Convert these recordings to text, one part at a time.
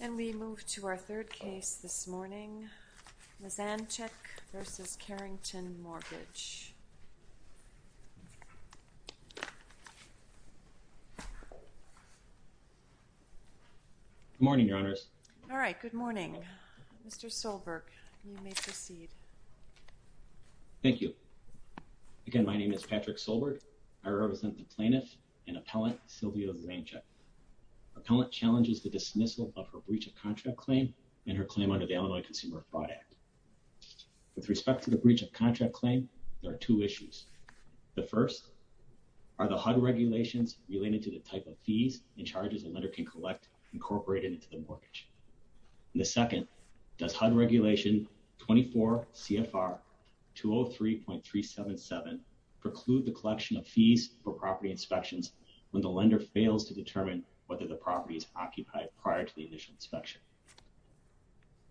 And we move to our third case this morning, Leszanczuk v. Carrington Mortgage. Good morning, Your Honors. All right, good morning. Mr. Solberg, you may proceed. Thank you. Again, my name is Patrick Solberg. I represent the plaintiff and appellant Sylvia Leszanczuk. Appellant challenges the dismissal of her breach of contract claim and her claim under the Illinois Consumer Fraud Act. With respect to the breach of contract claim, there are two issues. The first are the HUD regulations related to the type of fees and charges a lender can collect incorporated into the mortgage. The second, does HUD regulation 24 CFR 203.377 preclude the collection of fees for property inspections when the lender fails to determine whether the property is occupied prior to the initial inspection?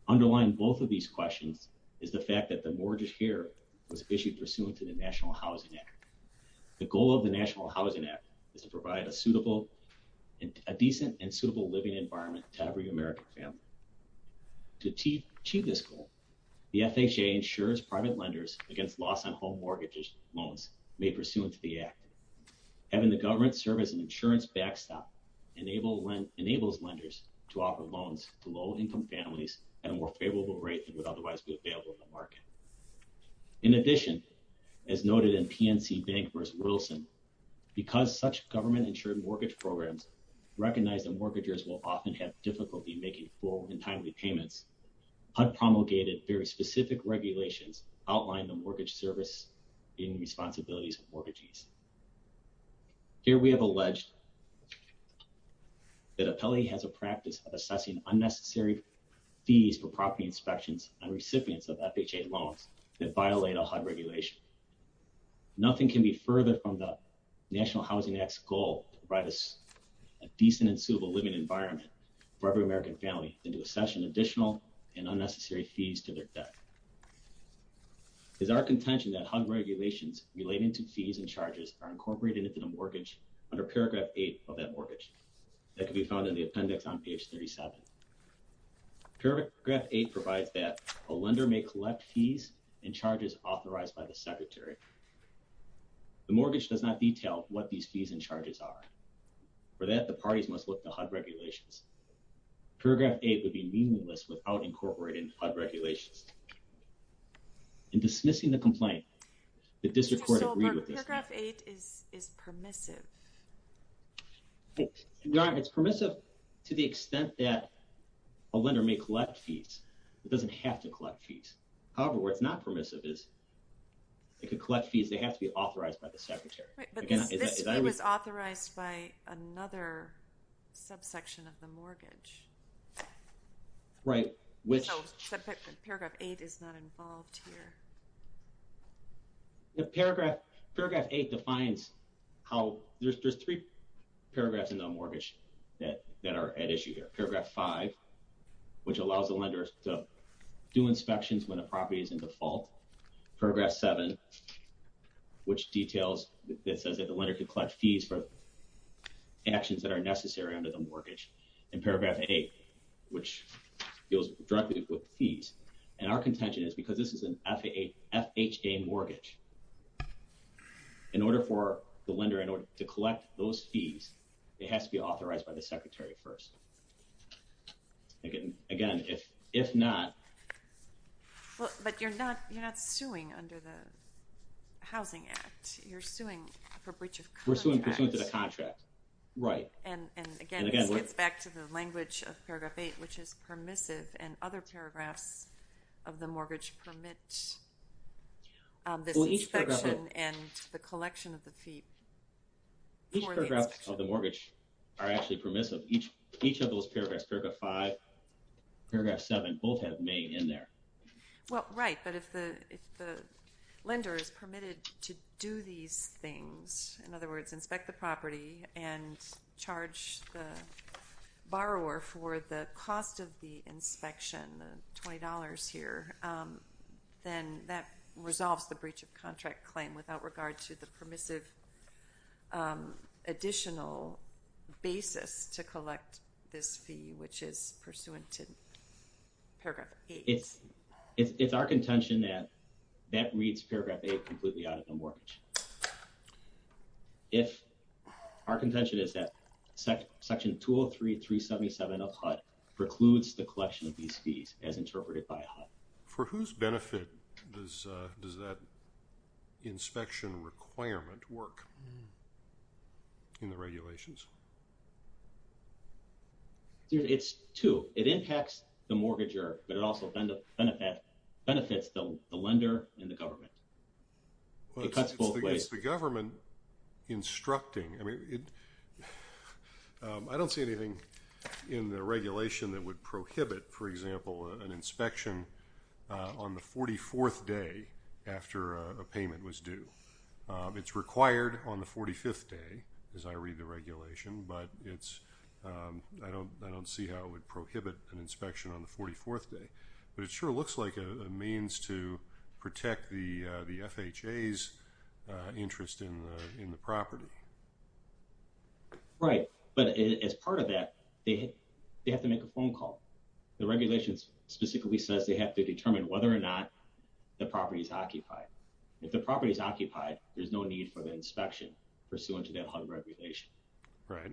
Underlying both of these questions is the fact that the mortgage here was issued pursuant to the National Housing Act. The goal of the National Housing Act is to provide a decent and suitable living environment to every American family. To achieve this goal, the FHA insures private lenders against loss on home mortgage loans made pursuant to the Act. Having the government serve as an insurance backstop enables lenders to offer loans to low-income families at a more favorable rate than would otherwise be available in the market. In addition, as noted in PNC Bank v. Wilson, because such government-insured mortgage programs recognize that mortgages will often have difficulty making full and timely payments, HUD promulgated very specific regulations outlining the mortgage service and responsibilities of mortgages. Here, we have alleged that Appellee has a practice of assessing unnecessary fees for property inspections on recipients of FHA loans that violate a HUD regulation. Nothing can be further from the National Housing Act's goal to provide a decent and suitable living environment for every American family than to assess an additional and unnecessary fees to their debt. It is our contention that HUD regulations relating to fees and charges are incorporated into the mortgage under paragraph 8 of that mortgage. That can be found in the appendix on page 37. Paragraph 8 provides that a lender may collect fees and charges authorized by the Secretary. The mortgage does not detail what these fees and charges are. For that, the parties must look to HUD regulations. Paragraph 8 would be meaningless without incorporating HUD regulations. In dismissing the complaint, the District Court agreed with this. So paragraph 8 is permissive? It's permissive to the extent that a lender may collect fees. It doesn't have to collect fees. However, where it's not permissive is it could collect fees that have to be authorized by the Secretary. But this fee was authorized by another subsection of the mortgage. Right. So paragraph 8 is not involved here. Paragraph 8 defines how... There's three paragraphs in the mortgage that are at issue here. Paragraph 5, which allows the lender to do inspections when a property is in default. Paragraph 7, which details... It says that the lender can collect fees for actions that are necessary under the mortgage. And paragraph 8, which deals directly with fees. And our contention is because this is an FHA mortgage, in order for the lender to collect those fees, it has to be authorized by the Secretary first. Again, if not... But you're not suing under the Housing Act. You're suing for breach of contract. We're suing for breach of contract. Right. And again, this gets back to the language of paragraph 8, which is permissive, and other paragraphs of the mortgage permit this inspection and the collection of the fee. Each paragraph of the mortgage are actually permissive. Each of those paragraphs, paragraph 5, paragraph 7, both have May in there. Well, right, but if the lender is permitted to do these things, in other words, inspect the property and charge the borrower for the cost of the inspection, $20 here, then that resolves the breach of contract claim without regard to the permissive additional basis to collect this fee, which is pursuant to paragraph 8. It's our contention that that reads paragraph 8 completely out of the mortgage. Our contention is that section 203.377 of HUD precludes the collection of these fees, as interpreted by HUD. For whose benefit does that inspection requirement work in the regulations? It's two. It impacts the mortgager, but it also benefits the lender and the government. It cuts both ways. It's the government instructing. I don't see anything in the regulation that would prohibit, for example, an inspection on the 44th day after a payment was due. It's required on the 45th day, as I read the regulation, but I don't see how it would prohibit an inspection on the 44th day. But it sure looks like a means to protect the FHA's interest in the property. Right. But as part of that, they have to make a phone call. The regulation specifically says they have to determine whether or not the property is occupied. If the property is occupied, there's no need for the inspection pursuant to that HUD regulation. Right.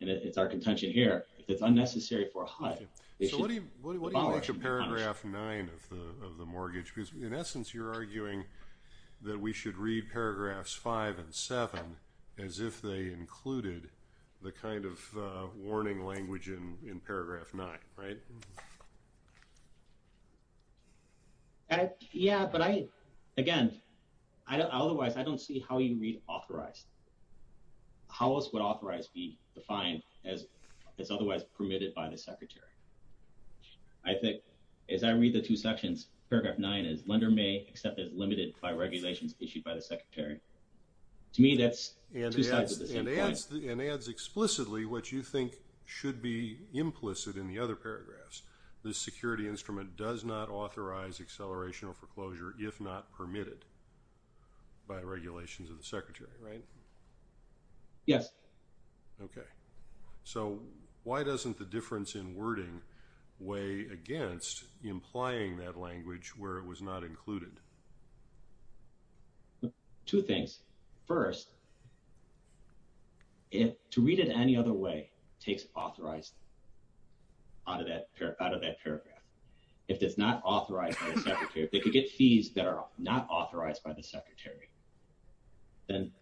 And it's our contention here, if it's unnecessary for HUD. So what do you make of paragraph 9 of the mortgage? Because, in essence, you're arguing that we should read paragraphs 5 and 7 as if they included the kind of warning language in paragraph 9. Right? Yeah, but I, again, otherwise I don't see how you read authorized. How else would authorized be defined as otherwise permitted by the Secretary? I think, as I read the two sections, paragraph 9 is lender may accept as limited by regulations issued by the Secretary. To me, that's two sides of the same coin. And adds explicitly what you think should be implicit in the other paragraphs. This security instrument does not authorize acceleration or foreclosure if not permitted by regulations of the Secretary, right? Yes. Okay. So why doesn't the difference in wording weigh against implying that language where it was not included? Two things. First, to read it any other way takes authorized out of that paragraph. If it's not authorized by the Secretary, if they could get fees that are not authorized by the Secretary, then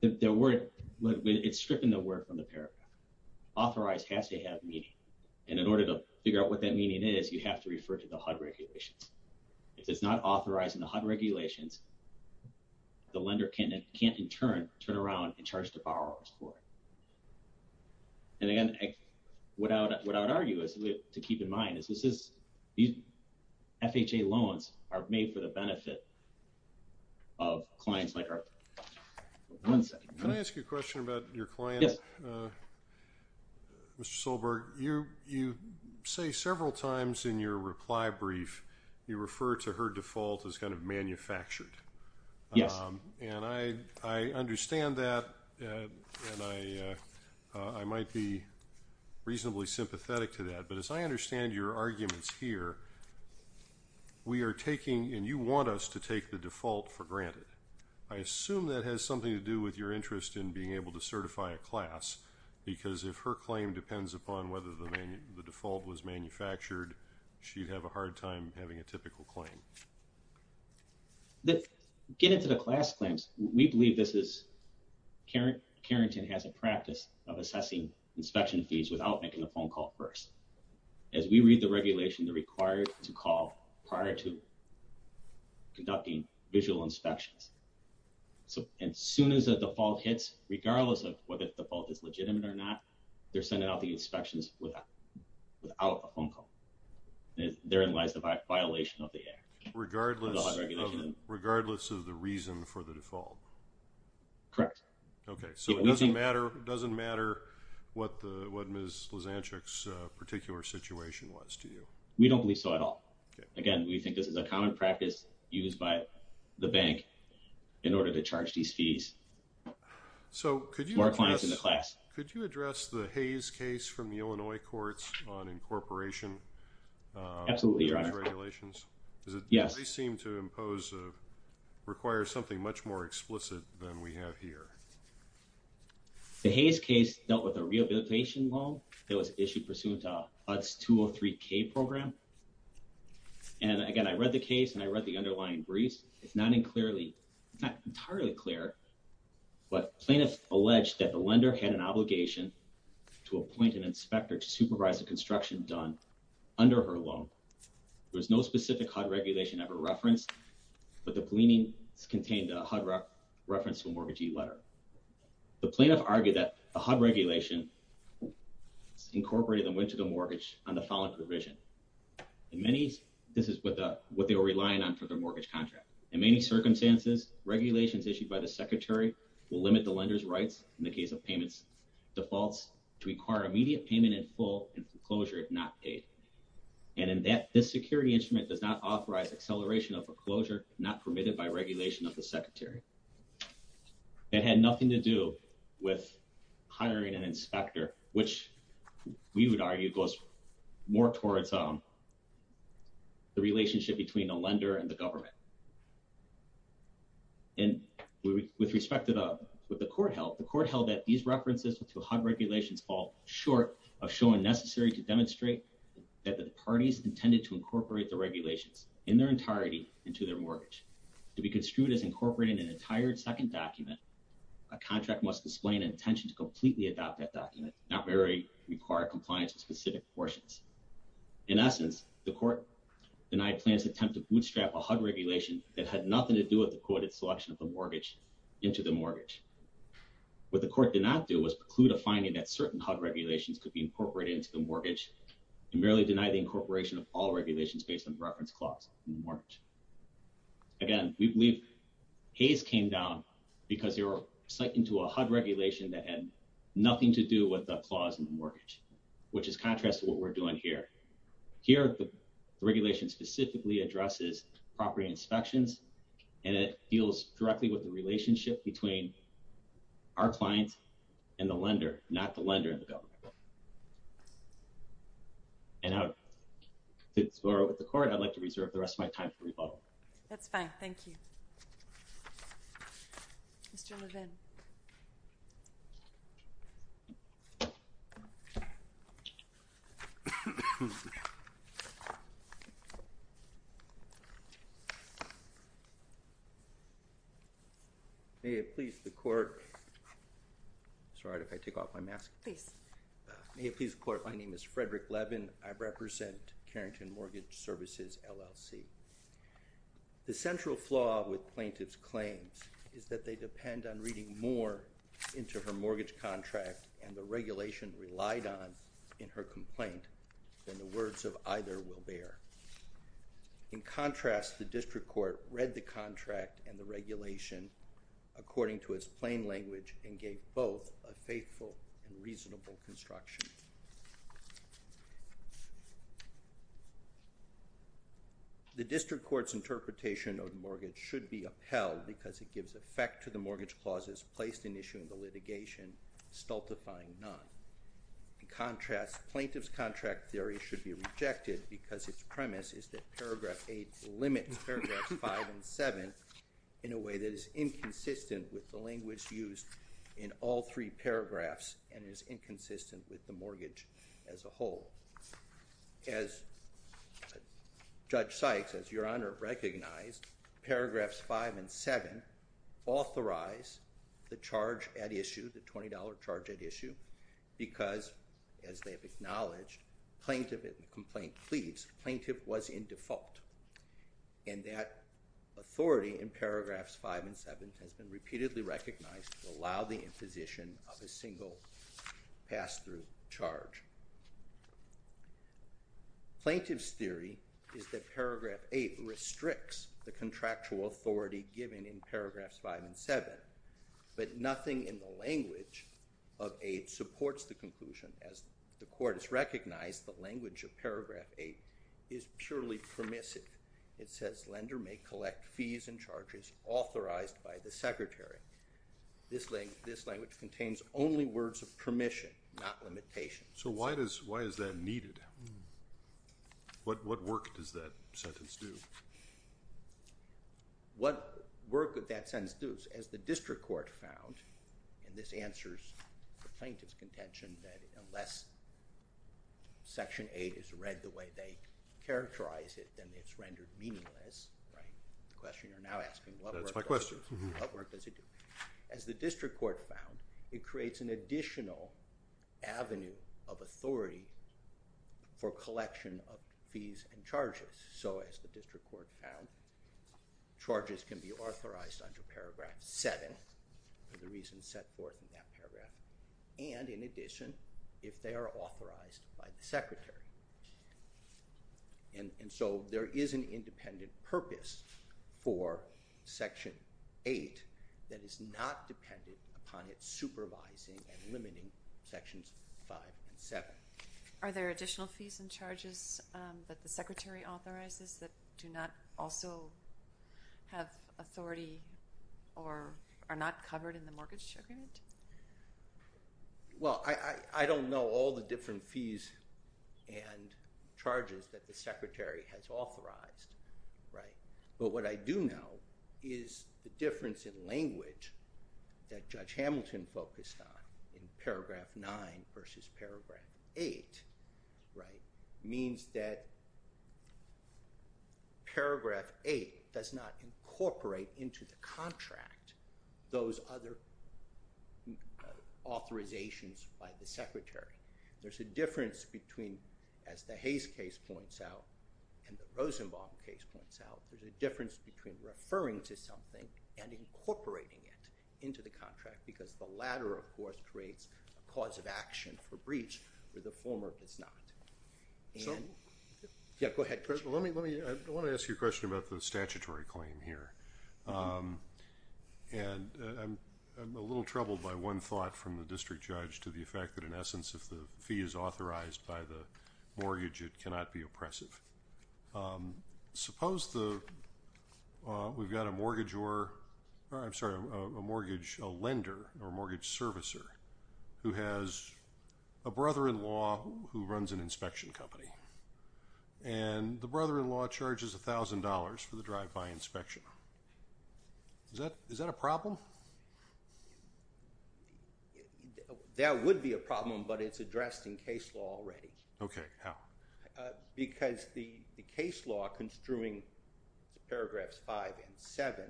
it's stripping the word from the paragraph. Authorized has to have meaning. And in order to figure out what that meaning is, you have to refer to the HUD regulations. If it's not authorized in the HUD regulations, the lender can't, in turn, turn around and charge the borrowers for it. And, again, what I would argue to keep in mind is these FHA loans are made for the benefit of clients like Arthur. One second. Can I ask you a question about your client? Yes. Mr. Solberg, you say several times in your reply brief you refer to her default as kind of manufactured. Yes. And I understand that, and I might be reasonably sympathetic to that. But as I understand your arguments here, we are taking, and you want us to take the default for granted. I assume that has something to do with your interest in being able to certify a class, because if her claim depends upon whether the default was manufactured, she'd have a hard time having a typical claim. To get into the class claims, we believe this is, Kherington has a practice of assessing inspection fees without making a phone call first. As we read the regulation, they're required to call prior to conducting visual inspections. And as soon as a default hits, regardless of whether the default is legitimate or not, they're sending out the inspections without a phone call. Therein lies the violation of the HUD regulation. Regardless of the reason for the default? Correct. Okay, so it doesn't matter what Ms. Lizanchuk's particular situation was to you? We don't believe so at all. Again, we think this is a common practice used by the bank in order to charge these fees for clients in the class. Could you address the Hayes case from the Illinois courts on incorporation of these regulations? Absolutely, Your Honor. Does it seem to require something much more explicit than we have here? The Hayes case dealt with a rehabilitation loan that was issued pursuant to HUD's 203K program. And again, I read the case and I read the underlying briefs. It's not entirely clear, but plaintiffs alleged that the lender had an obligation to appoint an inspector to supervise the construction done under her loan. There was no specific HUD regulation ever referenced, but the pleadings contained a HUD reference to a mortgagee letter. The plaintiff argued that the HUD regulation incorporated a win to the mortgage on the following provision. In many, this is what they were relying on for their mortgage contract. In many circumstances, regulations issued by the secretary will limit the lender's rights in the case of payments defaults to require immediate payment in full and foreclosure if not paid. And in that, this security instrument does not authorize acceleration of foreclosure not permitted by regulation of the secretary. It had nothing to do with hiring an inspector, which we would argue goes more towards the relationship between a lender and the government. And with respect to what the court held, the court held that these references to HUD regulations fall short of showing necessary to demonstrate that the parties intended to incorporate the regulations in their entirety into their mortgage. To be construed as incorporating an entire second document, a contract must explain an intention to completely adopt that document, not merely require compliance with specific portions. In essence, the court denied plans to attempt to bootstrap a HUD regulation that had nothing to do with the quoted selection of the mortgage into the mortgage. What the court did not do was preclude a finding that certain HUD regulations could be incorporated into the mortgage and merely deny the incorporation of all regulations based on the reference clause in the mortgage. Again, we believe Hays came down because they were psyched into a HUD regulation that had nothing to do with the clause in the mortgage, which is contrast to what we're doing here. Here, the regulation specifically addresses property inspections, and it deals directly with the relationship between our clients and the lender, not the lender and the government. And to explore with the court, I'd like to reserve the rest of my time for rebuttal. That's fine. Thank you. Mr. Levin. May it please the court. Sorry, if I take off my mask. Please. May it please the court. My name is Frederick Levin. I represent Carrington Mortgage Services, LLC. The central flaw with plaintiff's claims is that they depend on reading more into her mortgage contract and the regulation relied on in her complaint than the words of either will bear. In contrast, the district court read the contract and the regulation according to its plain language and gave both a faithful and reasonable construction. The district court's interpretation of the mortgage should be upheld because it gives effect to the mortgage clauses placed in issue in the litigation, stultifying none. In contrast, plaintiff's contract theory should be rejected because its premise is that Paragraph 8 limits Paragraphs 5 and 7 in a way that is inconsistent with the language used in all three paragraphs and is inconsistent with the mortgage as a whole. As Judge Sykes, as Your Honor, recognized, Paragraphs 5 and 7 authorize the charge at issue, the $20 charge at issue, because, as they've acknowledged, plaintiff in the complaint pleads plaintiff was in default. And that authority in Paragraphs 5 and 7 has been repeatedly recognized to allow the imposition of a single pass-through charge. Plaintiff's theory is that Paragraph 8 restricts the contractual authority given in Paragraphs 5 and 7, but nothing in the language of 8 supports the conclusion. As the court has recognized, the language of Paragraph 8 is purely permissive. It says, lender may collect fees and charges authorized by the secretary. This language contains only words of permission, not limitation. So why is that needed? What work does that sentence do? What work does that sentence do? As the district court found, and this answers the plaintiff's contention that unless Section 8 is read the way they characterize it, then it's rendered meaningless, right? The question you're now asking, what work does it do? That's my question. What work does it do? As the district court found, it creates an additional avenue of authority for collection of fees and charges. So as the district court found, charges can be authorized under Paragraph 7 for the reasons set forth in that paragraph, and in addition, if they are authorized by the secretary. And so there is an independent purpose for Section 8 that is not dependent upon its supervising and limiting Sections 5 and 7. Are there additional fees and charges that the secretary authorizes that do not also have authority or are not covered in the mortgage agreement? Well, I don't know all the different fees and charges that the secretary has authorized, right? But what I do know is the difference in language that Judge Hamilton focused on in Paragraph 9 versus Paragraph 8, right, means that Paragraph 8 does not incorporate into the contract those other authorizations by the secretary. There's a difference between, as the Hayes case points out and the Rosenbaum case points out, there's a difference between referring to something and incorporating it into the contract because the latter, of course, creates a cause of action for breach where the former does not. Yeah, go ahead, Chris. I want to ask you a question about the statutory claim here, and I'm a little troubled by one thought from the district judge to the effect that, in essence, if the fee is authorized by the mortgage, it cannot be oppressive. Suppose we've got a mortgage lender or mortgage servicer who has a brother-in-law who runs an inspection company, and the brother-in-law charges $1,000 for the drive-by inspection. Is that a problem? That would be a problem, but it's addressed in case law already. Okay, how? Because the case law construing Paragraphs 5 and 7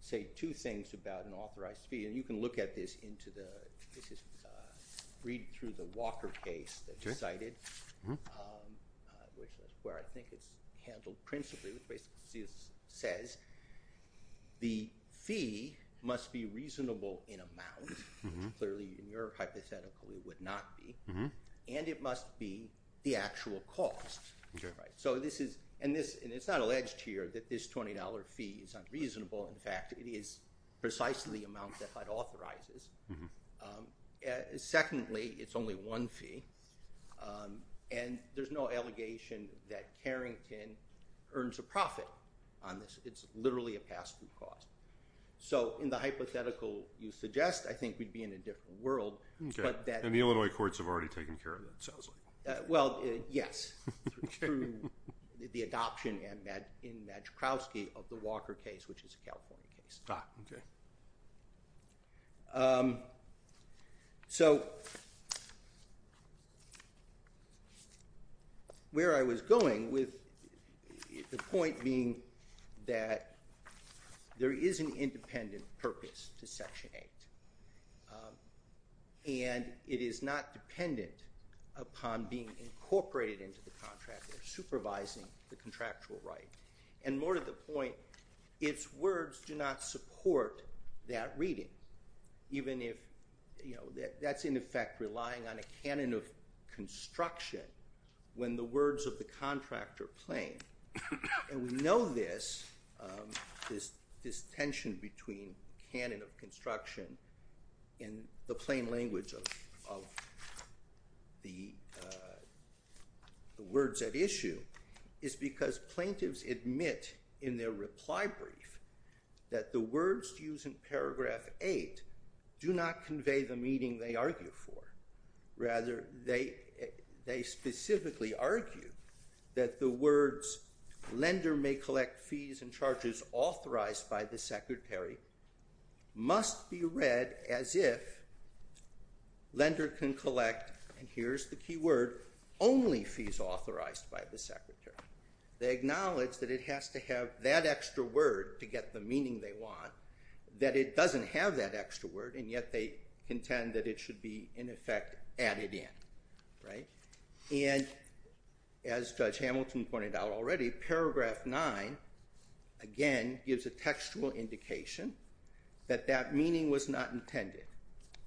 say two things about an authorized fee. You can look at this, read through the Walker case that you cited, which is where I think it's handled principally, which basically says the fee must be reasonable in amount, which clearly in your hypothetical it would not be, and it must be the actual cost. And it's not alleged here that this $20 fee is unreasonable. In fact, it is precisely the amount that HUD authorizes. Secondly, it's only one fee, and there's no allegation that Carrington earns a profit on this. It's literally a pass-through cost. So in the hypothetical you suggest, I think we'd be in a different world. And the Illinois courts have already taken care of that, it sounds like. Well, yes, through the adoption in Madrikowski of the Walker case, which is a California case. Ah, okay. So where I was going with the point being that there is an independent purpose to Section 8, and it is not dependent upon being incorporated into the contract or supervising the contractual right. And more to the point, its words do not support that reading, even if that's in effect relying on a canon of construction when the words of the contract are plain. And we know this, this tension between canon of construction and the plain language of the words at issue, is because plaintiffs admit in their reply brief that the words used in paragraph 8 do not convey the meaning they argue for. Rather, they specifically argue that the words, lender may collect fees and charges authorized by the secretary, must be read as if lender can collect, and here's the key word, only fees authorized by the secretary. They acknowledge that it has to have that extra word to get the meaning they want, that it doesn't have that extra word, and yet they contend that it should be, in effect, added in. And as Judge Hamilton pointed out already, paragraph 9, again, gives a textual indication that that meaning was not intended,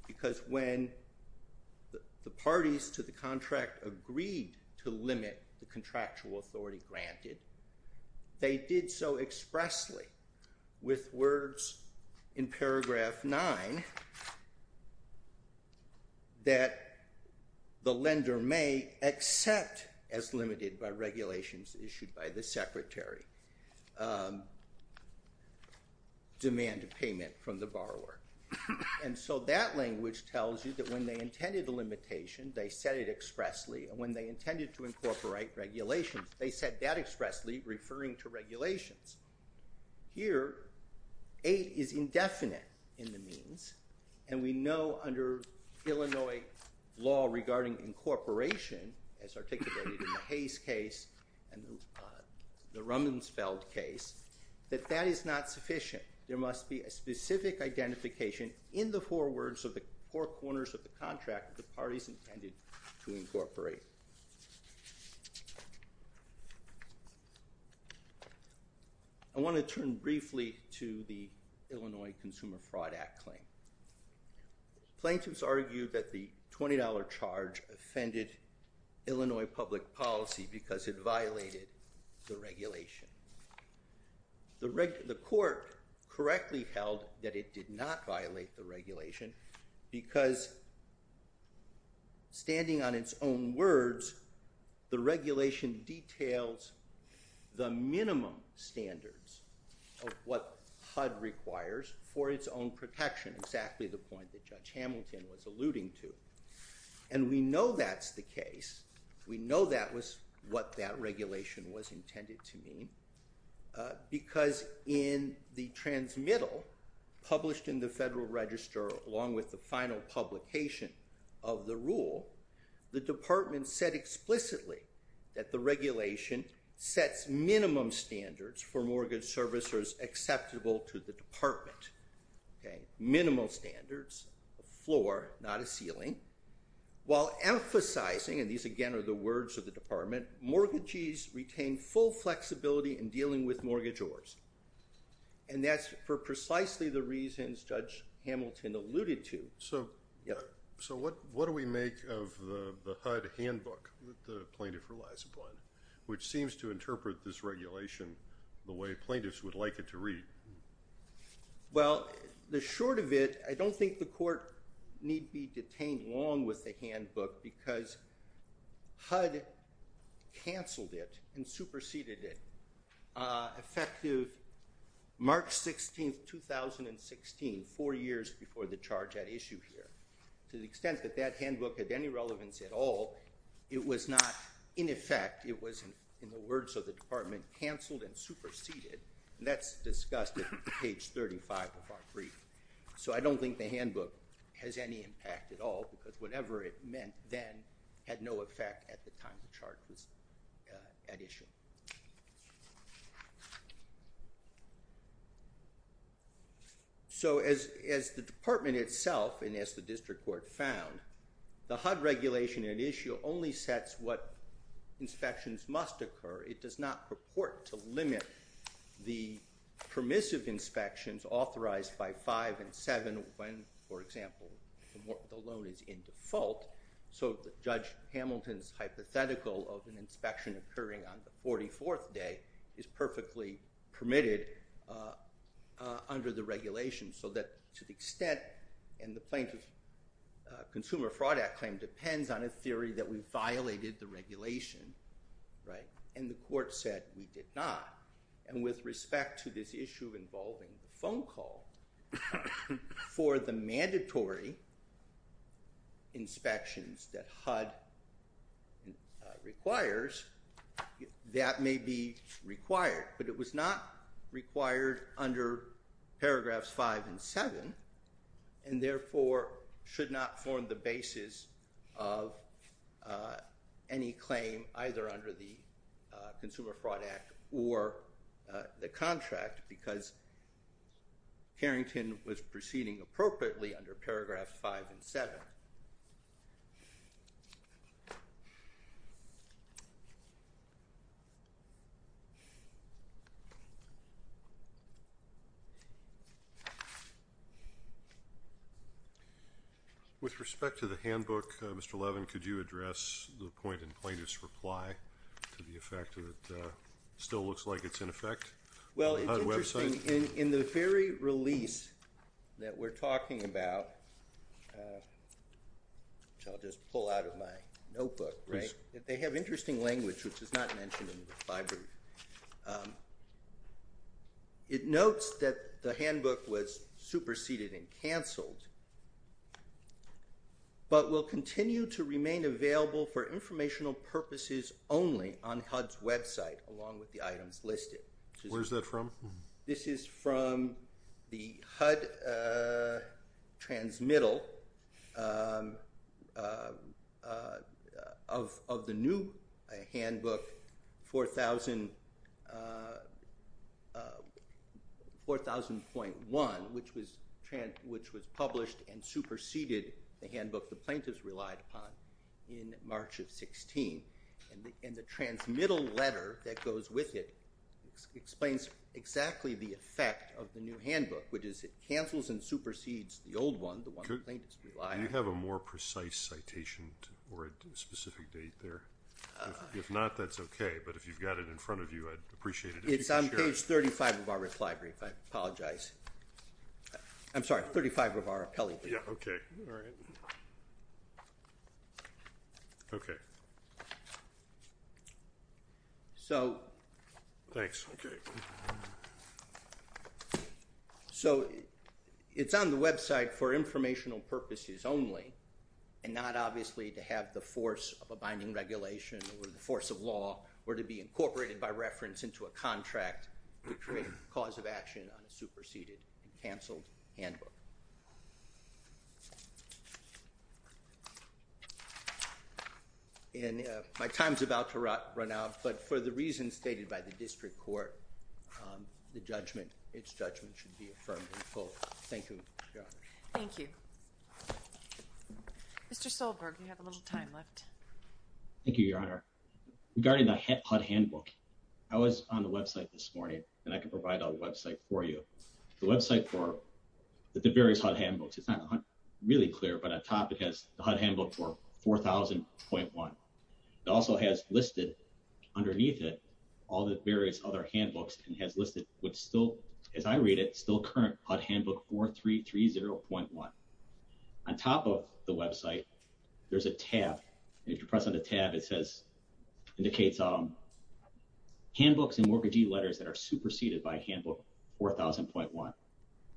because when the parties to the contract agreed to limit the contractual authority granted, they did so expressly with words in paragraph 9 that the lender may accept, as limited by regulations issued by the secretary, demand of payment from the borrower. And so that language tells you that when they intended a limitation, they said it expressly, and when they intended to incorporate regulations, they said that expressly, referring to regulations. Here, 8 is indefinite in the means, and we know under Illinois law regarding incorporation, as articulated in the Hayes case and the Rumsfeld case, that that is not sufficient. There must be a specific identification in the four words of the four corners of the contract the parties intended to incorporate. I want to turn briefly to the Illinois Consumer Fraud Act claim. Plaintiffs argued that the $20 charge offended Illinois public policy because it violated the regulation. The court correctly held that it did not violate the regulation because, standing on its own words, the regulation details the minimum standards of what HUD requires for its own protection, exactly the point that Judge Hamilton was alluding to. And we know that's the case. We know that was what that regulation was intended to mean, because in the transmittal published in the Federal Register, along with the final publication of the rule, the department said explicitly that the regulation sets minimum standards for mortgage servicers acceptable to the department. Minimal standards, a floor, not a ceiling, while emphasizing, and these again are the words of the department, mortgages retain full flexibility in dealing with mortgagors. And that's for precisely the reasons Judge Hamilton alluded to. So what do we make of the HUD handbook that the plaintiff relies upon, which seems to interpret this regulation the way plaintiffs would like it to read? Well, the short of it, I don't think the court need be detained long with the handbook, because HUD canceled it and superseded it effective March 16, 2016, four years before the charge at issue here. To the extent that that handbook had any relevance at all, it was not in effect. It was, in the words of the department, canceled and superseded, and that's discussed at page 35 of our brief. So I don't think the handbook has any impact at all, because whatever it meant then had no effect at the time the charge was at issue. So as the department itself, and as the district court found, the HUD regulation at issue only sets what inspections must occur. It does not purport to limit the permissive inspections authorized by 5 and 7 when, for example, the loan is in default. So Judge Hamilton's hypothetical of an inspection occurring on the 44th day is perfectly permitted under the regulation, so that to the extent, and the plaintiff's Consumer Fraud Act claim depends on a theory that we violated the regulation, and the court said we did not. And with respect to this issue involving the phone call, for the mandatory inspections that HUD requires, that may be required. But it was not required under paragraphs 5 and 7, and therefore should not form the basis of any claim either under the Consumer Fraud Act or the contract, because Carrington was proceeding appropriately under paragraphs 5 and 7. With respect to the handbook, Mr. Levin, could you address the point in Plaintiff's reply to the effect that it still looks like it's in effect on the HUD website? In the very release that we're talking about, which I'll just pull out of my notebook, they have interesting language, which is not mentioned in the reply brief. It notes that the handbook was superseded and canceled, but will continue to remain available for informational purposes only on HUD's website, along with the items listed. Where's that from? This is from the HUD transmittal of the new handbook 4000.1, which was published and superseded the handbook the plaintiffs relied upon in March of 16. And the transmittal letter that goes with it explains exactly the effect of the new handbook, which is it cancels and supersedes the old one, the one the plaintiffs relied on. Do you have a more precise citation or a specific date there? If not, that's okay. But if you've got it in front of you, I'd appreciate it if you could share it. It's on page 35 of our reply brief. I apologize. I'm sorry, 35 of our appellate brief. Yeah, okay. All right. Okay. Thanks. Okay. So it's on the website for informational purposes only, and not obviously to have the force of a binding regulation or the force of law or to be incorporated by reference into a contract to create a cause of action on a superseded and canceled handbook. And my time's about to run out, but for the reasons stated by the district court, the judgment, its judgment should be affirmed in full. Thank you, Your Honor. Thank you. Mr. Solberg, you have a little time left. Thank you, Your Honor. Regarding the HUD handbook, I was on the website this morning, and I can provide a website for you. The website for the various HUD handbooks. It's not really clear, but on top it has the HUD handbook for 4000.1. It also has listed underneath it all the various other handbooks and has listed with still, as I read it, still current HUD handbook 4330.1. On top of the website, there's a tab. If you press on the tab, it says, indicates handbooks and mortgagee letters that are superseded by handbook 4000.1.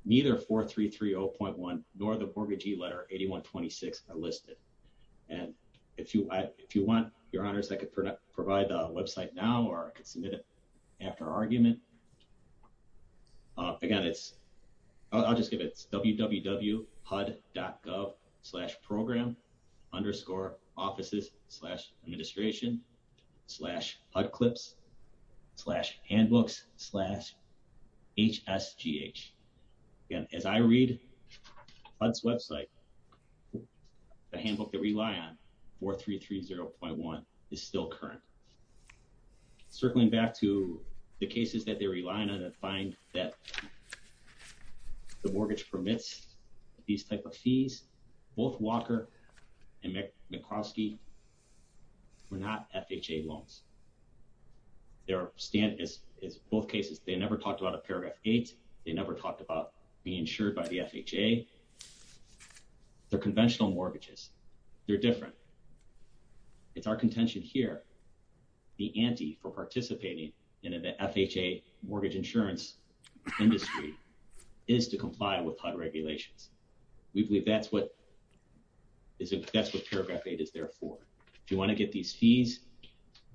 Neither 4330.1 nor the mortgagee letter 8126 are listed. And if you want, Your Honors, I could provide the website now or I could submit it after argument. Again, it's, I'll just give it, it's www.hud.gov slash program underscore offices slash administration slash HUD clips slash handbooks slash HSGH. Again, as I read HUD's website, the handbook that we rely on, 4330.1, is still current. Circling back to the cases that they rely on and find that the mortgage permits these type of fees, both Walker and McCroskey were not FHA loans. They're, as both cases, they never talked about a paragraph 8. They never talked about being insured by the FHA. They're conventional mortgages. They're different. It's our contention here, the ante for participating in an FHA mortgage insurance industry is to comply with HUD regulations. We believe that's what, that's what paragraph 8 is there for. If you want to get these fees,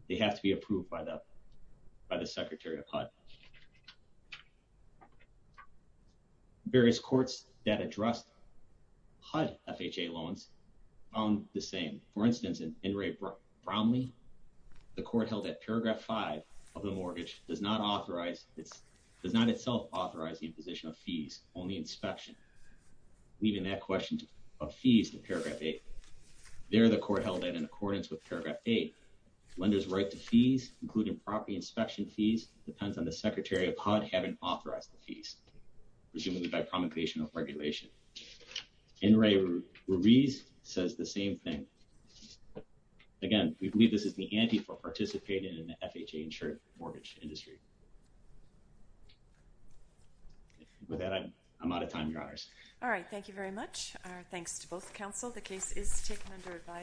they have to be approved by the, by the secretary of HUD. Various courts that addressed HUD FHA loans found the same. For instance, in Inouye-Brownlee, the court held that paragraph 5 of the mortgage does not authorize, does not itself authorize the imposition of fees, only inspection. Leaving that question of fees to paragraph 8. There, the court held that in accordance with paragraph 8, lenders' right to fees, including property inspection fees, depends on the secretary of HUD having authorized the fees, presumably by promulgation of regulation. Inouye-Ruiz says the same thing. Again, we believe this is the ante for participating in an FHA insured mortgage industry. With that, I'm, I'm out of time, Your Honors. All right, thank you very much. Thanks to both counsel. The case is taken under advisory.